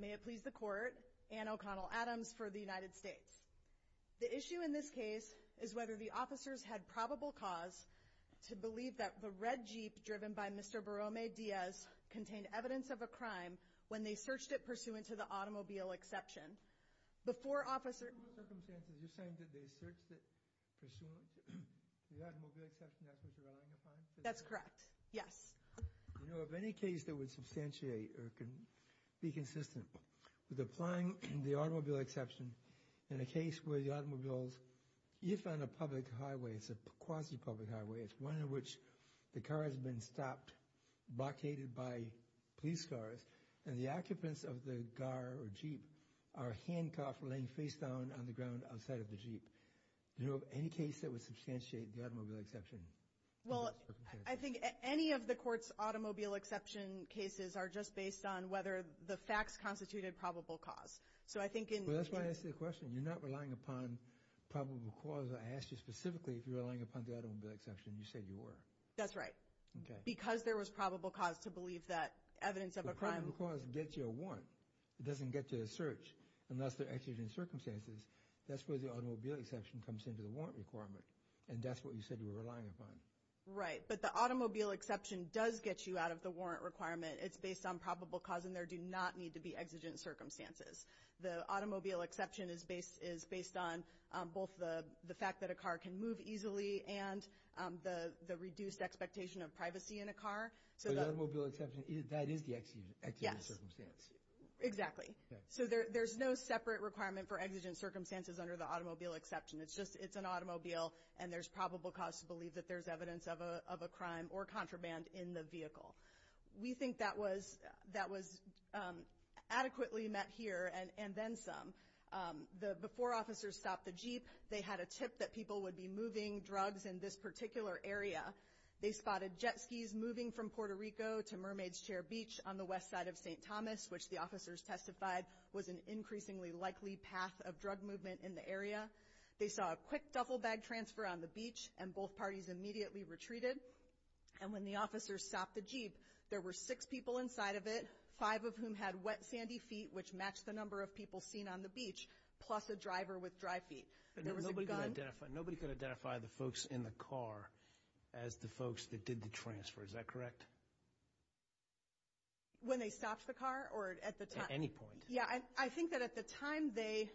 May it please the court, Anne O'Connell Adams for the United States. The issue in this case is whether the officers had probable cause to believe that the red jeep driven by Mr. Borrome Diaz contained evidence of a crime when they searched it pursuant to the automobile exception. You're saying that they searched it pursuant to the automobile exception that was not in the plan? That's correct. Yes. You know of any case that would substantiate or be consistent with applying the automobile exception in a case where the automobiles, if on a public highway, it's a quasi-public highway, it's one in which the car has been stopped, blockaded by police cars, and the occupants of the car or jeep are handcuffed or laying face down on the ground outside of the jeep? Do you know of any case that would substantiate the automobile exception? Well I think any of the court's automobile exception cases are just based on whether the facts constituted probable cause. So I think in- Well that's why I asked you the question. You're not relying upon probable cause. I asked you specifically if you're relying upon the automobile exception. You said you were. That's right. Okay. Because there was probable cause to believe that evidence of a crime- Well, that's why the automobile exception comes into the warrant. It doesn't get to a search unless they're exigent circumstances. That's where the automobile exception comes into the warrant requirement. And that's what you said you were relying upon. Right. But the automobile exception does get you out of the warrant requirement. It's based on probable cause and there do not need to be exigent circumstances. The automobile exception is based on both the fact that a car can move easily and the reduced expectation of privacy in a car. So the automobile exception, that is the exigent circumstance? Yes. So there's no separate requirement for exigent circumstances under the automobile exception. It's just, it's an automobile and there's probable cause to believe that there's evidence of a crime or contraband in the vehicle. We think that was adequately met here and then some. Before officers stopped the Jeep, they had a tip that people would be moving drugs in this particular area. They spotted jet skis moving from Puerto Rico to Mermaid's Chair Beach on the west side of St. Thomas, which the officers testified was an increasingly likely path of drug movement in the area. They saw a quick duffel bag transfer on the beach and both parties immediately retreated. And when the officers stopped the Jeep, there were six people inside of it, five of whom had wet sandy feet, which matched the number of people seen on the beach, plus a driver with dry feet. There was a gun. But nobody could identify, nobody could identify the folks in the car as the folks that did the transfer. Is that correct? When they stopped the car or at the time? Yeah, I think that at the time they,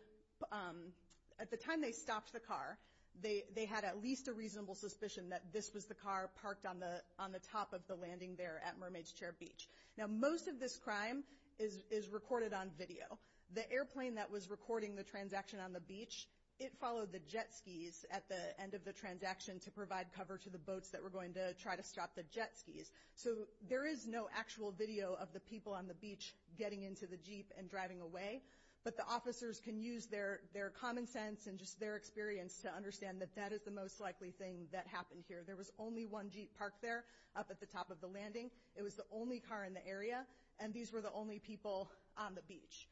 at the time they stopped the car, they had at least a reasonable suspicion that this was the car parked on the top of the landing there at Mermaid's Chair Beach. Now, most of this crime is recorded on video. The airplane that was recording the transaction on the beach, it followed the jet skis at the end of the transaction to provide cover to the boats that were going to try to stop the jet skis. So there is no actual video of the people on the beach getting into the Jeep and driving away. But the officers can use their common sense and just their experience to understand that that is the most likely thing that happened here. There was only one Jeep parked there up at the top of the landing. It was the only car in the area. And these were the only people on the beach.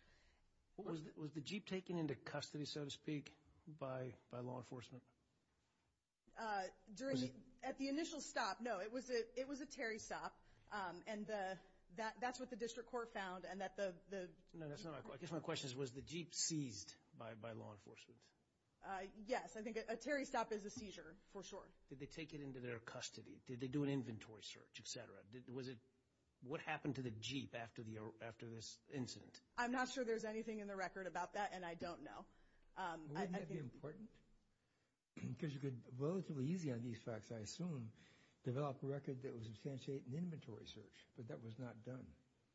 Was the Jeep taken into custody, so to speak, by law enforcement? Uh, during the, at the initial stop, no, it was a, it was a Terry stop. And the, that, that's what the district court found. And that the, the, No, that's not, I guess my question is, was the Jeep seized by, by law enforcement? Uh, yes. I think a Terry stop is a seizure, for sure. Did they take it into their custody? Did they do an inventory search, et cetera? Was it, what happened to the Jeep after the, after this incident? I'm not sure there's anything in the record about that. And I don't know. Wouldn't that be important? Because you could, relatively easy on these facts, I assume, develop a record that would substantiate an inventory search. But that was not done.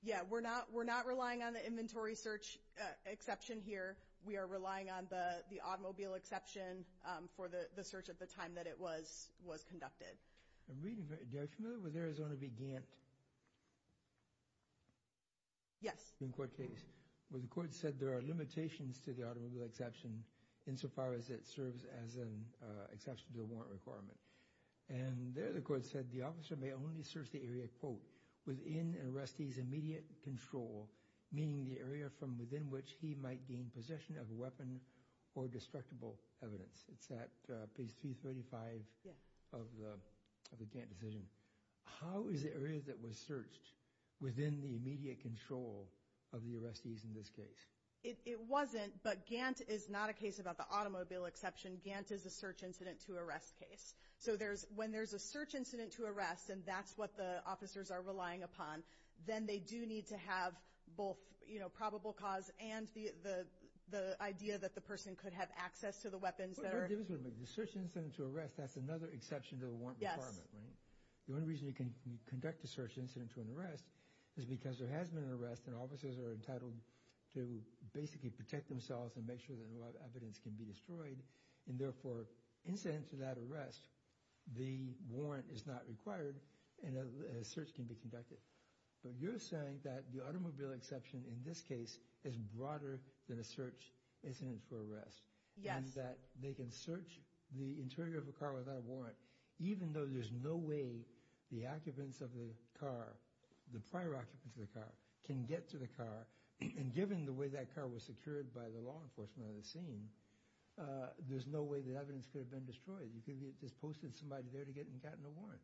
Yeah, we're not, we're not relying on the inventory search exception here. We are relying on the, the automobile exception, um, for the, the search at the time that it was, was conducted. I'm reading, are you familiar with Arizona v. Gantt? Yes. In court case. Well, the court said there are limitations to the automobile exception insofar as it serves as an exception to a warrant requirement. And there the court said the officer may only search the area, quote, within an arrestee's immediate control, meaning the area from within which he might gain possession of a weapon or destructible evidence. It's at page 335 of the, of the Gantt decision. How is the area that was searched within the immediate control of the arrestees in this case? It, it wasn't, but Gantt is not a case about the automobile exception. Gantt is a search incident to arrest case. So there's, when there's a search incident to arrest, and that's what the officers are relying upon. Then they do need to have both, you know, probable cause and the, the, the idea that the person could have access to the weapons that are. What are the differences between the search incident to arrest? That's another exception to the warrant requirement, right? The only reason you can conduct a search incident to an arrest is because there has been an arrest, and officers are entitled to basically protect themselves and make sure that a lot of evidence can be destroyed, and therefore, incident to that arrest, the warrant is not required, and a search can be conducted. But you're saying that the automobile exception in this case is broader than a search incident to arrest. Yes. And that they can search the interior of a car without a warrant, even though there's no way the occupants of the car, the prior occupants of the car, can get to the car. And given the way that car was secured by the law enforcement on the scene, there's no way the evidence could have been destroyed. You could have just posted somebody there to get, and gotten a warrant.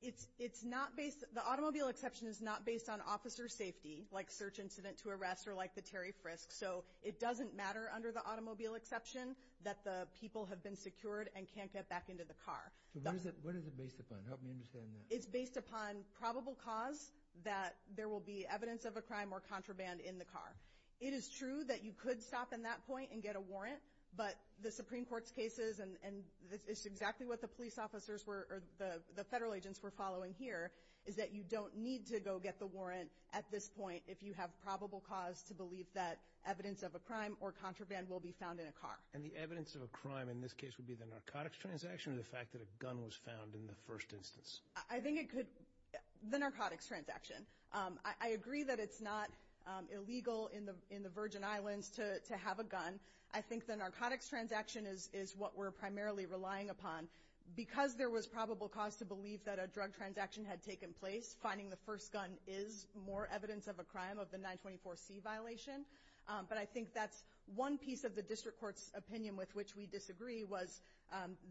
It's, it's not based, the automobile exception is not based on officer safety, like search incident to arrest, or like the Terry Frisk. So, it doesn't matter under the automobile exception, that the people have been secured and can't get back into the car. So what is it, what is it based upon? Help me understand that. It's based upon probable cause that there will be evidence of a crime or contraband in the car. It is true that you could stop in that point and get a warrant. But the Supreme Court's cases, and, and this is exactly what the police officers were, or the, the federal agents were following here, is that you don't need to go get the warrant at this point if you have probable cause to believe that evidence of a crime or contraband will be found in a car. And the evidence of a crime in this case would be the narcotics transaction or the fact that a gun was found in the first instance? I think it could, the narcotics transaction. I, I agree that it's not illegal in the, in the Virgin Islands to, to have a gun. I think the narcotics transaction is, is what we're primarily relying upon. Because there was probable cause to believe that a drug transaction had taken place, finding the first gun is more evidence of a crime of the 924C violation. But I think that's one piece of the district court's opinion with which we disagree, was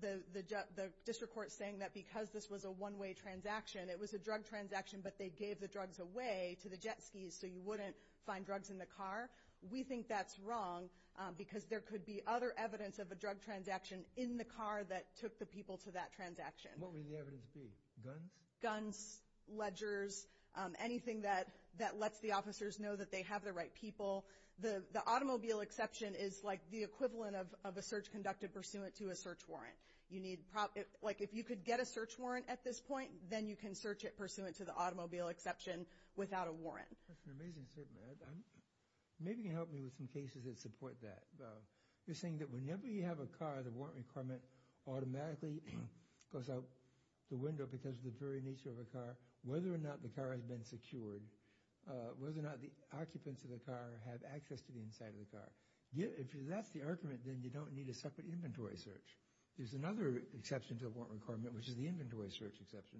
the, the, the district court saying that because this was a one way transaction, it was a drug transaction, but they gave the drugs away to the jet skis so you wouldn't find drugs in the car. We think that's wrong because there could be other evidence of a drug transaction in the car that took the people to that transaction. What would the evidence be? Guns? Guns, ledgers, anything that, that lets the officers know that they have the right to search people, the, the automobile exception is like the equivalent of, of a search conducted pursuant to a search warrant. You need, like if you could get a search warrant at this point, then you can search it pursuant to the automobile exception without a warrant. That's an amazing statement. I'm, maybe you can help me with some cases that support that though. You're saying that whenever you have a car, the warrant requirement automatically goes out the window because of the very nature of the car, whether or not the car has been secured, whether or not the occupants of the car have access to the inside of the car. Yet, if that's the argument, then you don't need a separate inventory search. There's another exception to a warrant requirement, which is the inventory search exception.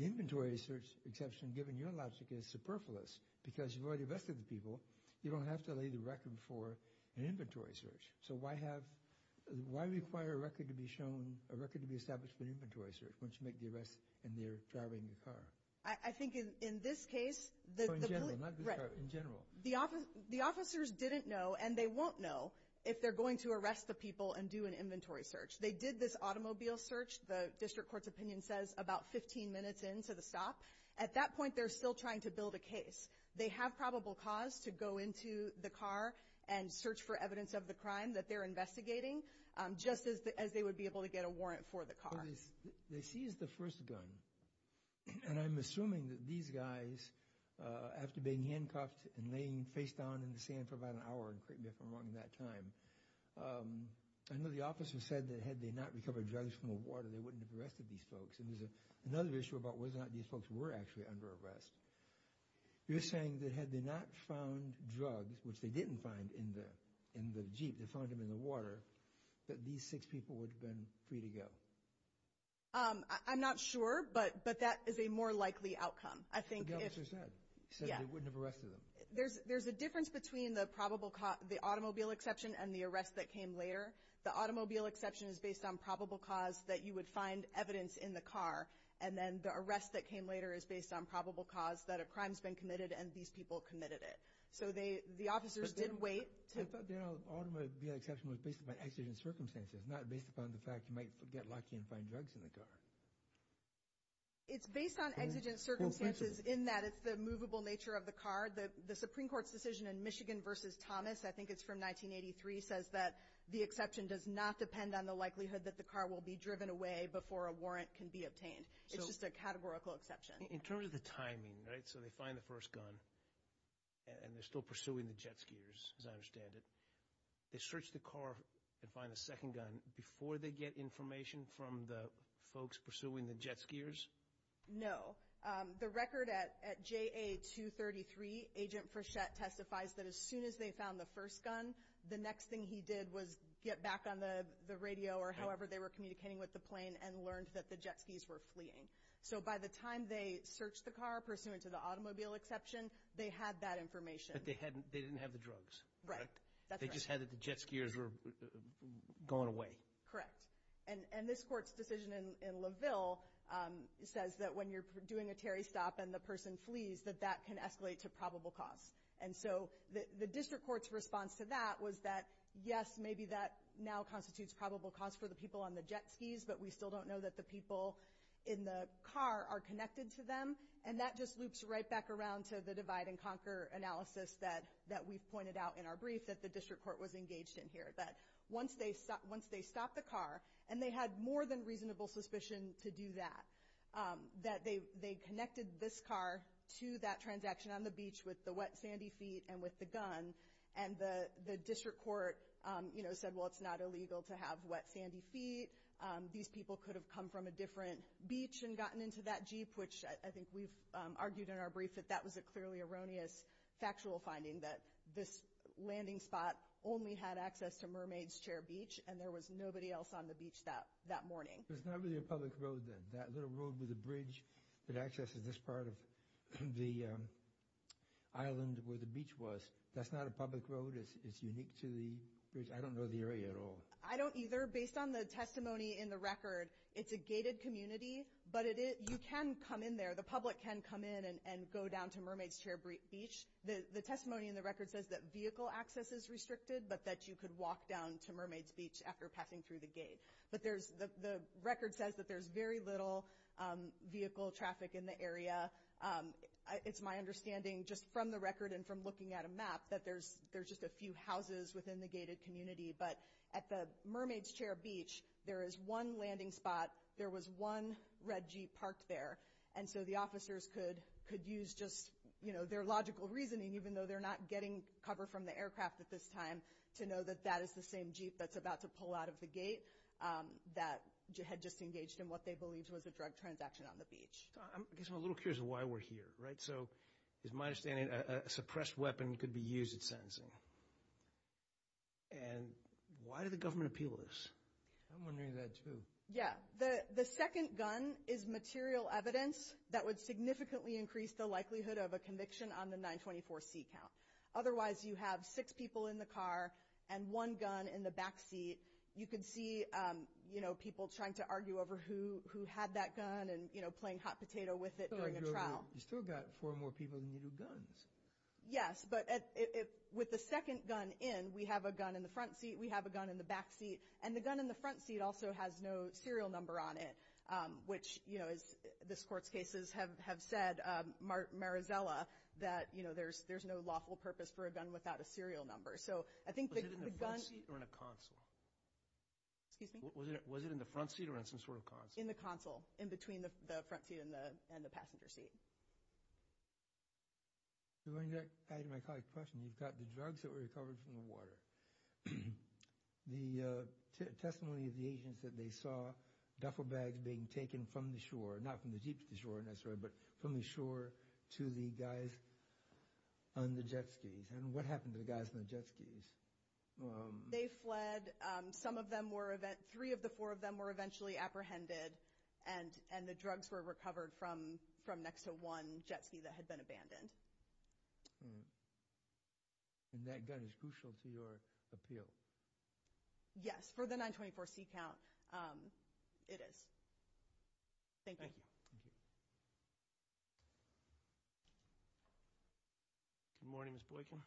The inventory search exception, given your logic, is superfluous. Because you've already arrested the people, you don't have to lay the record for an inventory search. So why have, why require a record to be shown, a record to be established for inventory search once you make the arrest and they're driving the car? I think in this case, the- So in general, not just driving, in general. The officers didn't know, and they won't know, if they're going to arrest the people and do an inventory search. They did this automobile search, the district court's opinion says about 15 minutes into the stop. At that point, they're still trying to build a case. They have probable cause to go into the car and search for evidence of the crime that they're investigating, just as they would be able to get a warrant for the car. They seized the first gun, and I'm assuming that these guys, after being handcuffed and laying face down in the sand for about an hour, and couldn't get them out in that time. I know the officer said that had they not recovered drugs from the water, they wouldn't have arrested these folks. And there's another issue about whether or not these folks were actually under arrest. You're saying that had they not found drugs, which they didn't find in the jeep, they found them in the water, that these six people would have been free to go. I'm not sure, but that is a more likely outcome. I think if- The officer said, said they wouldn't have arrested them. There's a difference between the automobile exception and the arrest that came later. The automobile exception is based on probable cause that you would find evidence in the car. And then the arrest that came later is based on probable cause that a crime's been committed and these people committed it. So the officers did wait to- I thought the automobile exception was based on accident circumstances, not based upon the fact you might get lucky and find drugs in the car. It's based on exigent circumstances in that it's the movable nature of the car. The Supreme Court's decision in Michigan versus Thomas, I think it's from 1983, says that the exception does not depend on the likelihood that the car will be driven away before a warrant can be obtained. It's just a categorical exception. In terms of the timing, right? So they find the first gun, and they're still pursuing the jet skiers, as I understand it. They search the car and find the second gun before they get information from the folks pursuing the jet skiers? The record at JA 233, Agent Frechette testifies that as soon as they found the first gun, the next thing he did was get back on the radio or however they were communicating with the plane and learned that the jet skis were fleeing. So by the time they searched the car pursuant to the automobile exception, they had that information. But they didn't have the drugs, correct? They just had that the jet skiers were going away. And this court's decision in Laville says that when you're doing a Terry stop and the person flees, that that can escalate to probable cause. And so the district court's response to that was that, yes, maybe that now constitutes probable cause for the people on the jet skis. But we still don't know that the people in the car are connected to them. And that just loops right back around to the divide and conquer analysis that we've pointed out in our brief. That the district court was engaged in here, that once they stopped the car, and they had more than reasonable suspicion to do that, that they connected this car to that transaction on the beach with the wet, sandy feet and with the gun. And the district court said, well, it's not illegal to have wet, sandy feet. These people could have come from a different beach and gotten into that Jeep, which I think we've argued in our brief that that was a clearly erroneous, factual finding that this landing spot only had access to Mermaid's Chair Beach, and there was nobody else on the beach that morning. There's not really a public road then. That little road with the bridge that accesses this part of the island where the beach was, that's not a public road, it's unique to the, I don't know the area at all. I don't either. Based on the testimony in the record, it's a gated community, but you can come in there. The public can come in and go down to Mermaid's Chair Beach. The testimony in the record says that vehicle access is restricted, but that you could walk down to Mermaid's Beach after passing through the gate. But the record says that there's very little vehicle traffic in the area. It's my understanding, just from the record and from looking at a map, that there's just a few houses within the gated community. But at the Mermaid's Chair Beach, there is one landing spot, there was one red Jeep parked there. And so the officers could use just their logical reasoning, even though they're not getting cover from the aircraft at this time, to know that that is the same Jeep that's about to pull out of the gate that had just engaged in what they believed was a drug transaction on the beach. So I guess I'm a little curious of why we're here, right? So it's my understanding a suppressed weapon could be used at sentencing. And why did the government appeal this? I'm wondering that too. Yeah, the second gun is material evidence that would significantly increase the likelihood of a conviction on the 924C count. Otherwise, you have six people in the car and one gun in the back seat. You can see people trying to argue over who had that gun and playing hot potato with it during a trial. You still got four more people than you do guns. Yes, but with the second gun in, we have a gun in the front seat, we have a gun in the back seat. And the gun in the front seat also has no serial number on it. Which, as this court's cases have said, Marazella, that there's no lawful purpose for a gun without a serial number. So I think the gun- Was it in the front seat or in a console? Excuse me? Was it in the front seat or in some sort of console? In the console, in between the front seat and the passenger seat. So going back to my colleague's question, you've got the drugs that were recovered from the water. The testimony of the agents that they saw duffel bags being taken from the shore, not from the jeep to the shore necessarily, but from the shore to the guys on the jet skis. And what happened to the guys on the jet skis? They fled. Some of them were, three of the four of them were eventually apprehended. And the drugs were recovered from next to one jet ski that had been abandoned. And that gun is crucial to your appeal? Yes, for the 924 C count, it is. Thank you. Good morning, Ms. Boykin.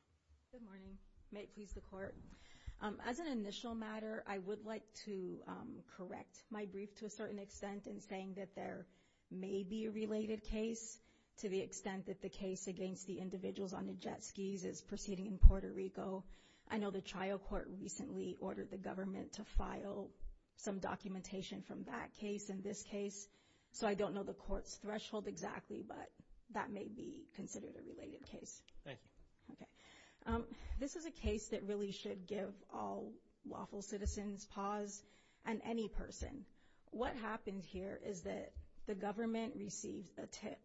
Good morning. May it please the court. As an initial matter, I would like to correct my brief to a certain extent in saying that there may be a related case to the extent that the case against the individuals on the jet skis is proceeding in Puerto Rico. I know the trial court recently ordered the government to file some documentation from that case and this case. So I don't know the court's threshold exactly, but that may be considered a related case. Thank you. Okay. This is a case that really should give all lawful citizens pause and any person. What happened here is that the government received a tip,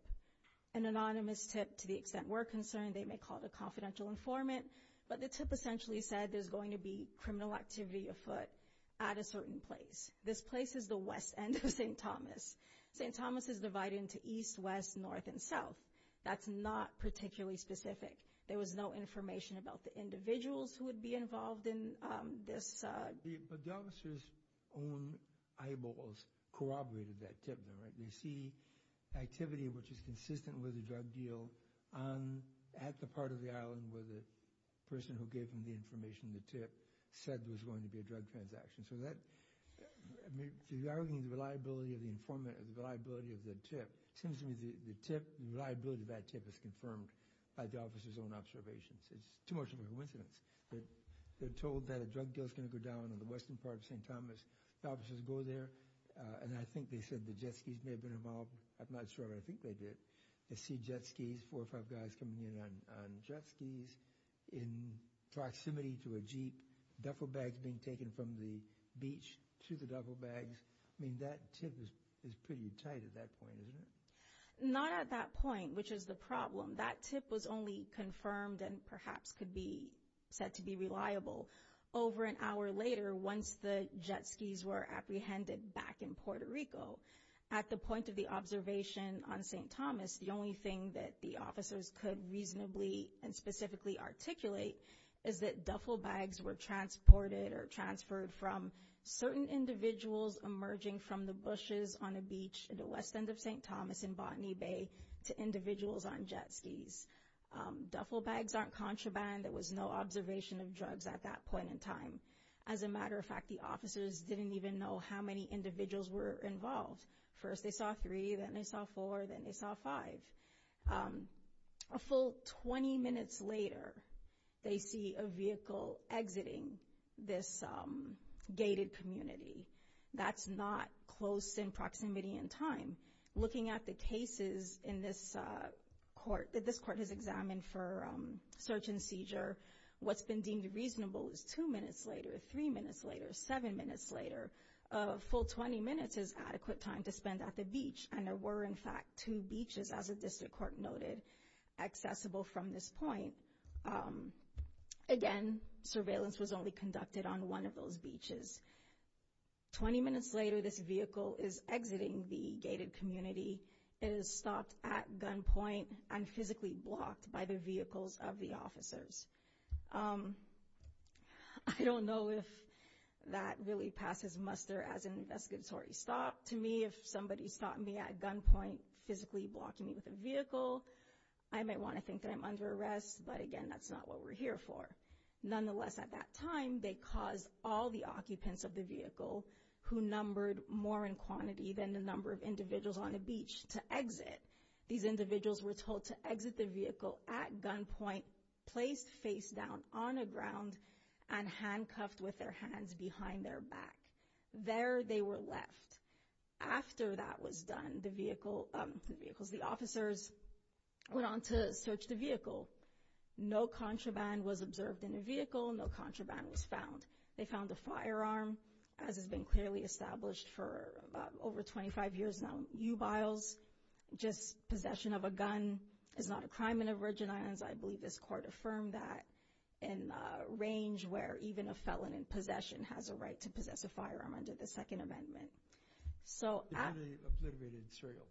an anonymous tip to the extent we're concerned. They may call it a confidential informant, but the tip essentially said there's going to be criminal activity afoot at a certain place. This place is the west end of St. Thomas. St. Thomas is divided into east, west, north, and south. That's not particularly specific. There was no information about the individuals who would be involved in this. But the officer's own eyeballs corroborated that tip. They see activity which is consistent with the drug deal at the part of the island where the person who gave them the information, the tip, said there was going to be a drug transaction. So that, I mean, if you're arguing the reliability of the tip, it seems to me the tip, the reliability of that tip is confirmed by the officer's own observations. It's too much of a coincidence that they're told that a drug deal's going to go down in the western part of St. Thomas. The officers go there, and I think they said the jet skis may have been involved. I'm not sure, but I think they did. They see jet skis, four or five guys coming in on jet skis in proximity to a jeep. Duffel bags being taken from the beach to the duffel bags. I mean, that tip is pretty tight at that point, isn't it? Not at that point, which is the problem. That tip was only confirmed and perhaps could be said to be reliable over an hour later once the jet skis were apprehended back in Puerto Rico. At the point of the observation on St. Thomas, the only thing that the officers could reasonably and specifically articulate is that duffel bags were transported or transferred from certain individuals emerging from the bushes on a beach in the west end of St. Thomas in Botany Bay to individuals on jet skis. Duffel bags aren't contraband. There was no observation of drugs at that point in time. As a matter of fact, the officers didn't even know how many individuals were involved. First, they saw three, then they saw four, then they saw five. A full 20 minutes later, they see a vehicle exiting this gated community. That's not close in proximity and time. Looking at the cases in this court that this court has examined for search and seizure, what's been deemed reasonable is two minutes later, three minutes later, seven minutes later. A full 20 minutes is adequate time to spend at the beach. And there were, in fact, two beaches, as a district court noted, accessible from this point. Again, surveillance was only conducted on one of those beaches. 20 minutes later, this vehicle is exiting the gated community. It is stopped at gunpoint and physically blocked by the vehicles of the officers. I don't know if that really passes muster as an investigatory stop. To me, if somebody stopped me at gunpoint, physically blocking me with a vehicle, I might want to think that I'm under arrest. But again, that's not what we're here for. Nonetheless, at that time, they caused all the occupants of the vehicle, who numbered more in quantity than the number of individuals on a beach, to exit. These individuals were told to exit the vehicle at gunpoint, placed face down on the ground, and handcuffed with their hands behind their back. There they were left. After that was done, the vehicles, the officers went on to search the vehicle. No contraband was observed in the vehicle. No contraband was found. They found a firearm, as has been clearly established for over 25 years now. U-biles, just possession of a gun, is not a crime in the Virgin Islands. I believe this court affirmed that in a range where even a felon in possession has a right to possess a firearm under the Second Amendment. So, after- Under the obliterated serial.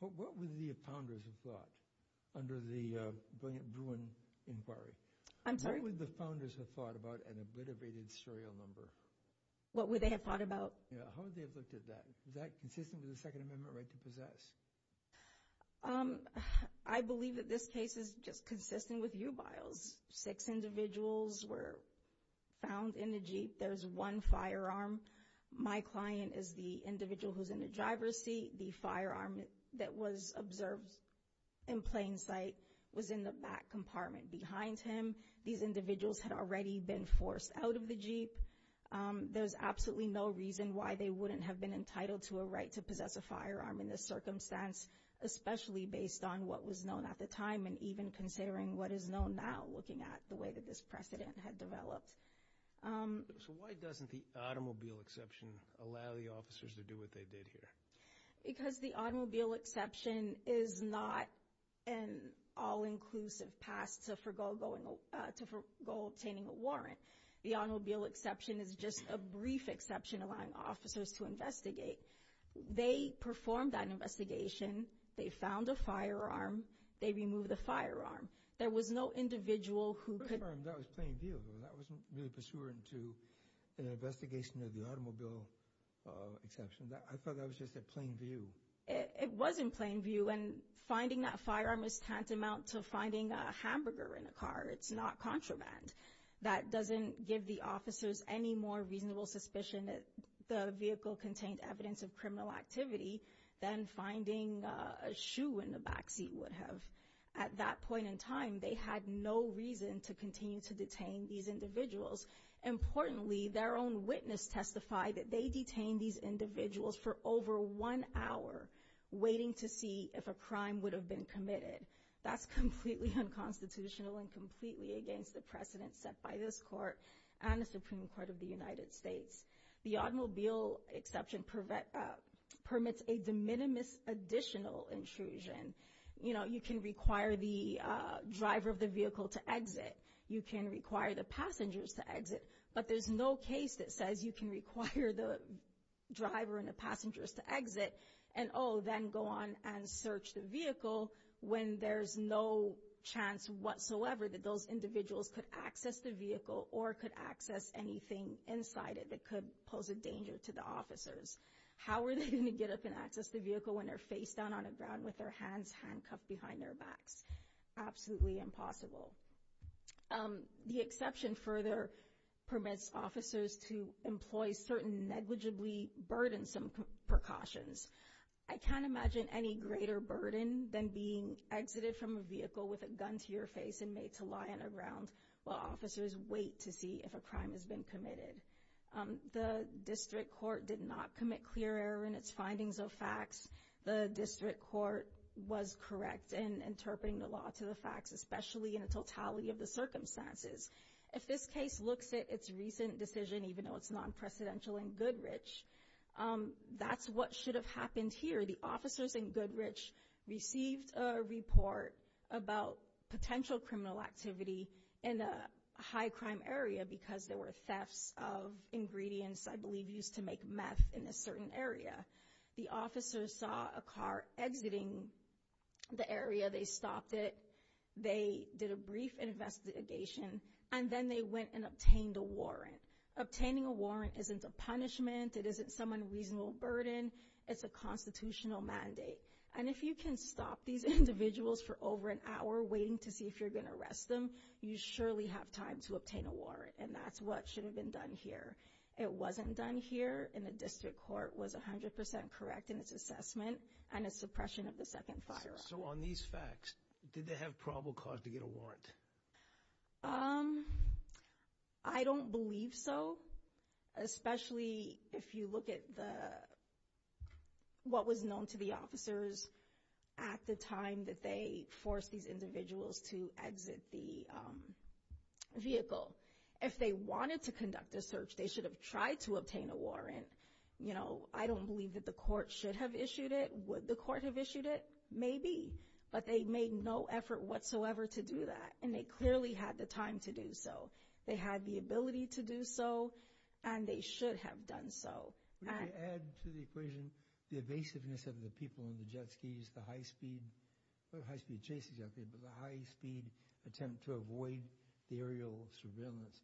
What would the founders have thought under the Bruin Inquiry? I'm sorry? What would the founders have thought about an obliterated serial number? What would they have thought about? Yeah, how would they have looked at that? Is that consistent with the Second Amendment right to possess? I believe that this case is just consistent with U-biles. Six individuals were found in the Jeep. There's one firearm. My client is the individual who's in the driver's seat. The firearm that was observed in plain sight was in the back compartment behind him. These individuals had already been forced out of the Jeep. There's absolutely no reason why they wouldn't have been entitled to a right to possess a firearm in this circumstance, especially based on what was known at the time, and even considering what is known now, looking at the way that this precedent had developed. So why doesn't the automobile exception allow the officers to do what they did here? Because the automobile exception is not an all-inclusive pass to forgo obtaining a warrant. The automobile exception is just a brief exception allowing officers to investigate. They performed that investigation. They found a firearm. They removed the firearm. There was no individual who could... That was plain view. That wasn't really pursuant to an investigation of the automobile exception. I thought that was just a plain view. It was in plain view, and finding that firearm is tantamount to finding a hamburger in a car. It's not contraband. That doesn't give the officers any more reasonable suspicion that the vehicle contained evidence of criminal activity than finding a shoe in the back seat would have. At that point in time, they had no reason to continue to detain these individuals. Importantly, their own witness testified that they detained these individuals for over one hour waiting to see if a crime would have been committed. That's completely unconstitutional and completely against the precedent set by this court and the Supreme Court of the United States. The automobile exception permits a de minimis additional intrusion. You can require the driver of the vehicle to exit. You can require the passengers to exit, but there's no case that says you can require the driver and the passengers to exit and then go on and search the vehicle when there's no chance whatsoever that those individuals could access the vehicle or could access anything inside it that could pose a danger to the officers. How are they going to get up and access the vehicle when they're face down on the ground with their hands handcuffed behind their backs? Absolutely impossible. The exception further permits officers to employ certain negligibly burdensome precautions. I can't imagine any greater burden than being exited from a vehicle with a gun to your face and made to lie on the ground while officers wait to see if a crime has been committed. The district court did not commit clear error in its findings of facts. The district court was correct in interpreting the law to the facts, especially in the totality of the circumstances. If this case looks at its recent decision, even though it's non-presidential in Goodrich, that's what should have happened here. The officers in Goodrich received a report about potential criminal activity in a high crime area because there were thefts of ingredients, I believe, used to make meth in a certain area. The officers saw a car exiting the area. They stopped it. They did a brief investigation. And then they went and obtained a warrant. Obtaining a warrant isn't a punishment. It isn't some unreasonable burden. It's a constitutional mandate. And if you can stop these individuals for over an hour waiting to see if you're going to arrest them, you surely have time to obtain a warrant. And that's what should have been done here. It wasn't done here. And the district court was 100% correct in its assessment and its suppression of the second firearm. So on these facts, did they have probable cause to get a warrant? I don't believe so. Especially if you look at what was known to the officers at the time that they forced these individuals to exit the vehicle. If they wanted to conduct a search, they should have tried to obtain a warrant. I don't believe that the court should have issued it. Would the court have issued it? Maybe. But they made no effort whatsoever to do that. And they clearly had the time to do so. They had the ability to do so. And they should have done so. Would you add to the equation the evasiveness of the people in the jet skis, the high-speed, not the high-speed chases, I think, but the high-speed attempt to avoid aerial surveillance.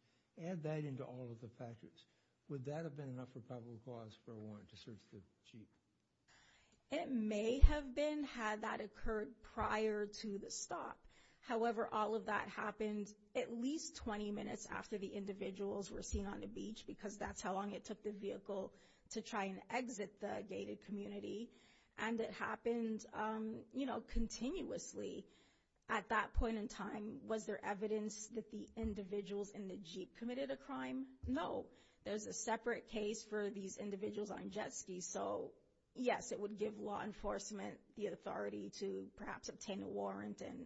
Add that into all of the factors. Would that have been enough of a probable cause for a warrant to search the jeep? It may have been had that occurred prior to the stop. However, all of that happened at least 20 minutes after the individuals were seen on the beach. Because that's how long it took the vehicle to try and exit the gated community. And it happened, you know, continuously at that point in time. Was there evidence that the individuals in the jeep committed a crime? No. There's a separate case for these individuals on jet skis. So, yes, it would give law enforcement the authority to perhaps obtain a warrant and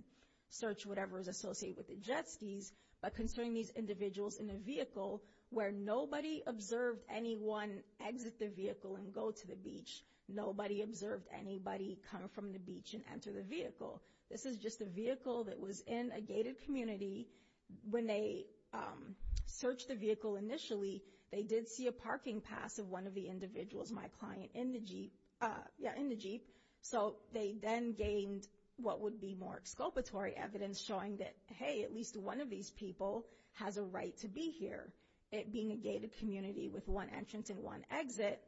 search whatever is associated with the jet skis. But concerning these individuals in the vehicle, where nobody observed anyone exit the vehicle and go to the beach, nobody observed anybody come from the beach and enter the vehicle. This is just a vehicle that was in a gated community. When they searched the vehicle initially, they did see a parking pass of one of the individuals, my client, in the jeep. So they then gained what would be more exculpatory evidence showing that, hey, at least one of these people has a right to be here. It being a gated community with one entrance and one exit,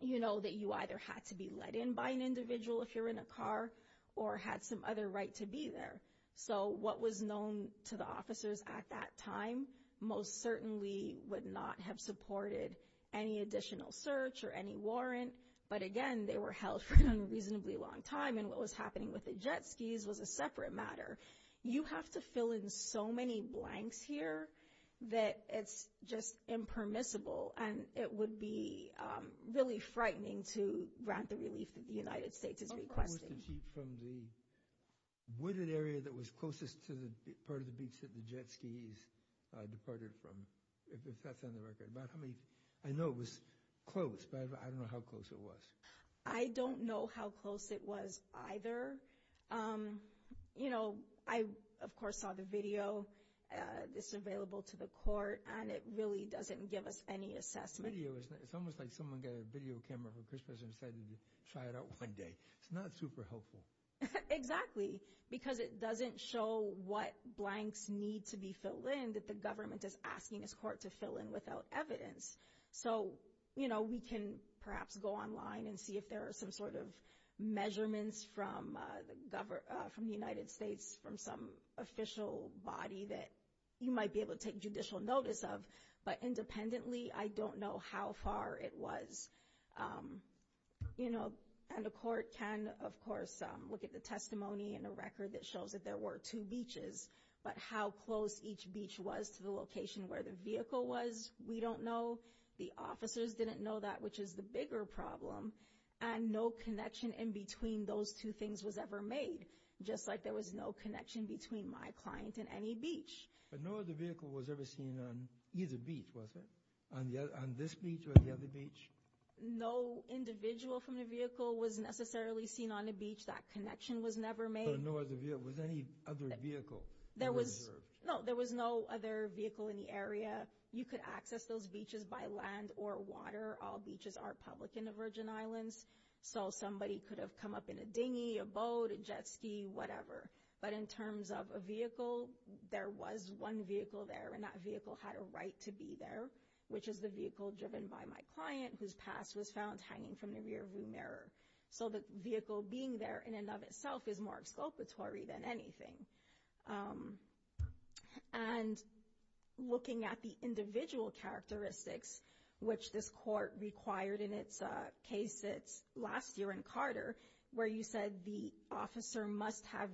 you know that you either had to be let in by an individual if you're in a car or had some other right to be there. So what was known to the officers at that time most certainly would not have supported any additional search or any warrant. But again, they were held for an unreasonably long time. And what was happening with the jet skis was a separate matter. You have to fill in so many blanks here that it's just impermissible. And it would be really frightening to grant the relief that the United States is requesting. How far was the jeep from the wooded area that was closest to the part of the beach that the jet skis departed from, if that's on the record? I know it was close, but I don't know how close it was. I don't know how close it was either. Um, you know, I, of course, saw the video. It's available to the court and it really doesn't give us any assessment. The video, it's almost like someone got a video camera for Christmas and decided to try it out one day. It's not super helpful. Exactly. Because it doesn't show what blanks need to be filled in that the government is asking his court to fill in without evidence. So, you know, we can perhaps go online and see if there are some sort of measurements from the government, from the United States, from some official body that you might be able to take judicial notice of. But independently, I don't know how far it was. You know, and the court can, of course, look at the testimony and the record that shows that there were two beaches. But how close each beach was to the location where the vehicle was, we don't know. The officers didn't know that, which is the bigger problem. And no connection in between those two things was ever made. Just like there was no connection between my client and any beach. But no other vehicle was ever seen on either beach, was it? On this beach or the other beach? No individual from the vehicle was necessarily seen on the beach. That connection was never made. But no other vehicle, was there any other vehicle? There was, no, there was no other vehicle in the area. You could access those beaches by land or water. All beaches are public in the Virgin Islands. So somebody could have come up in a dinghy, a boat, a jet ski, whatever. But in terms of a vehicle, there was one vehicle there. And that vehicle had a right to be there, which is the vehicle driven by my client, whose pass was found hanging from the rear view mirror. So the vehicle being there, in and of itself, is more exculpatory than anything. And looking at the individual characteristics, which this court required in its case that's last year in Carter, where you said the officer must have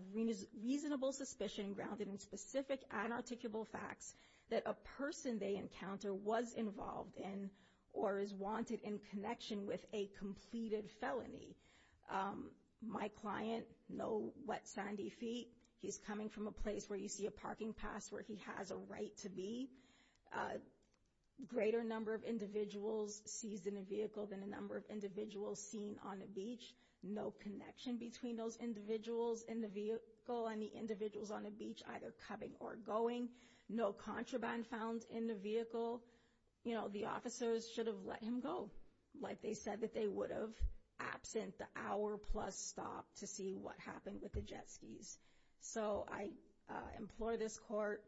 reasonable suspicion grounded in specific unarticulable facts that a person they encounter was involved in or is wanted in connection with a completed felony. My client, no wet, sandy feet. He's coming from a place where you see a parking pass where he has a right to be. A greater number of individuals seized in a vehicle than the number of individuals seen on the beach. No connection between those individuals in the vehicle and the individuals on the beach, either coming or going. No contraband found in the vehicle. You know, the officers should have let him go. Like they said that they would have absent the hour plus stop to see what happened with the jet skis. So I implore this court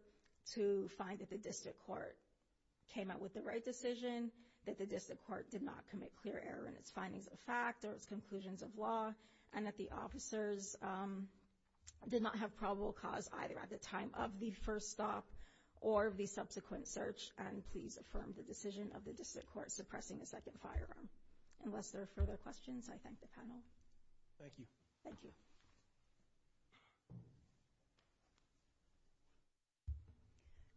to find that the district court came out with the right decision. That the district court did not commit clear error in its findings of fact or its conclusions of law. And that the officers did not have probable cause either at the time of the first stop or the subsequent search. And please affirm the decision of the district court suppressing the second firearm. Unless there are further questions, I thank the panel. Thank you. Thank you.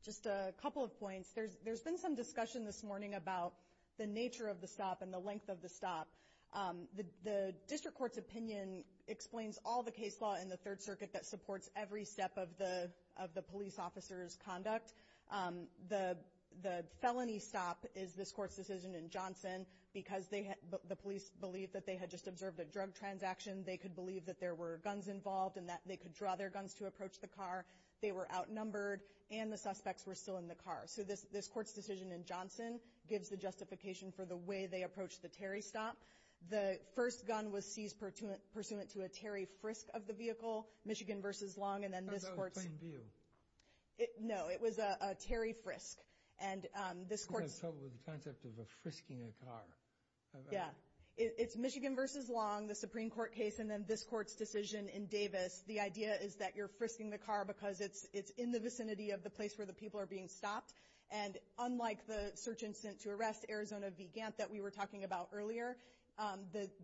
Just a couple of points. There's been some discussion this morning about the nature of the stop and the length of the stop. The district court's opinion explains all the case law in the third circuit that supports every step of the police officer's conduct. The felony stop is this court's decision in Johnson because the police believed that they had just observed a drug transaction. They could believe that there were guns involved and that they could draw their guns to approach the car. They were outnumbered. And the suspects were still in the car. So this court's decision in Johnson gives the justification for the way they approached the Terry stop. The first gun was seized pursuant to a Terry frisk of the vehicle, Michigan versus Long. And then this court's- How about a plain view? No, it was a Terry frisk. And this court- I'm having trouble with the concept of a frisking a car. Yeah, it's Michigan versus Long, the Supreme Court case. And then this court's decision in Davis, the idea is that you're frisking the car because it's in the vicinity of the place where the people are being stopped. And unlike the search instant to arrest Arizona v. Gant that we were talking about earlier,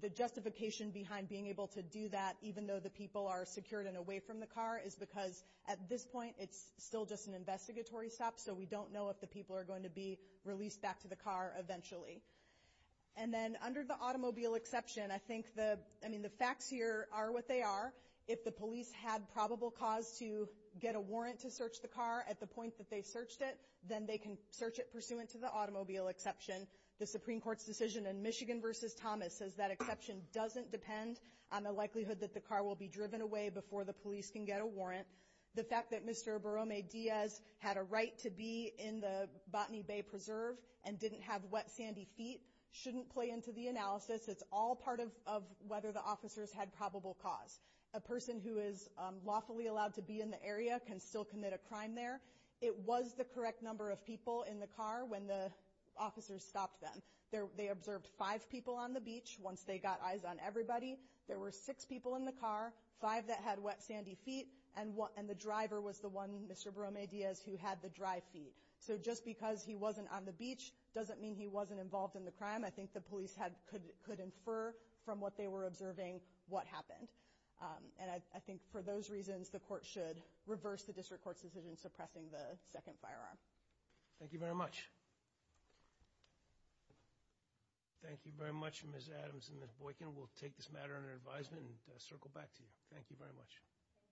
the justification behind being able to do that, even though the people are secured and away from the car, is because at this point, it's still just an investigatory stop. So we don't know if the people are going to be released back to the car eventually. And then under the automobile exception, I think the, I mean, the facts here are what they are. If the police had probable cause to get a warrant to search the car at the point that they searched it, then they can search it pursuant to the automobile exception. The Supreme Court's decision in Michigan versus Thomas says that exception doesn't depend on the likelihood that the car will be driven away before the police can get a warrant. The fact that Mr. Borrome-Diaz had a right to be in the Botany Bay Preserve and didn't have wet, sandy feet shouldn't play into the analysis. It's all part of whether the officers had probable cause. A person who is lawfully allowed to be in the area can still commit a crime there. It was the correct number of people in the car when the officers stopped them. They observed five people on the beach once they got eyes on everybody. There were six people in the car, five that had wet, sandy feet, and the driver was the one, Mr. Borrome-Diaz, who had the dry feet. So just because he wasn't on the beach doesn't mean he wasn't involved in the crime. I think the police could infer from what they were observing what happened. And I think for those reasons, the court should reverse the district court's decision suppressing the second firearm. Thank you very much. Thank you very much, Ms. Adams and Ms. Boykin. We'll take this matter under advisement and circle back to you. Thank you very much.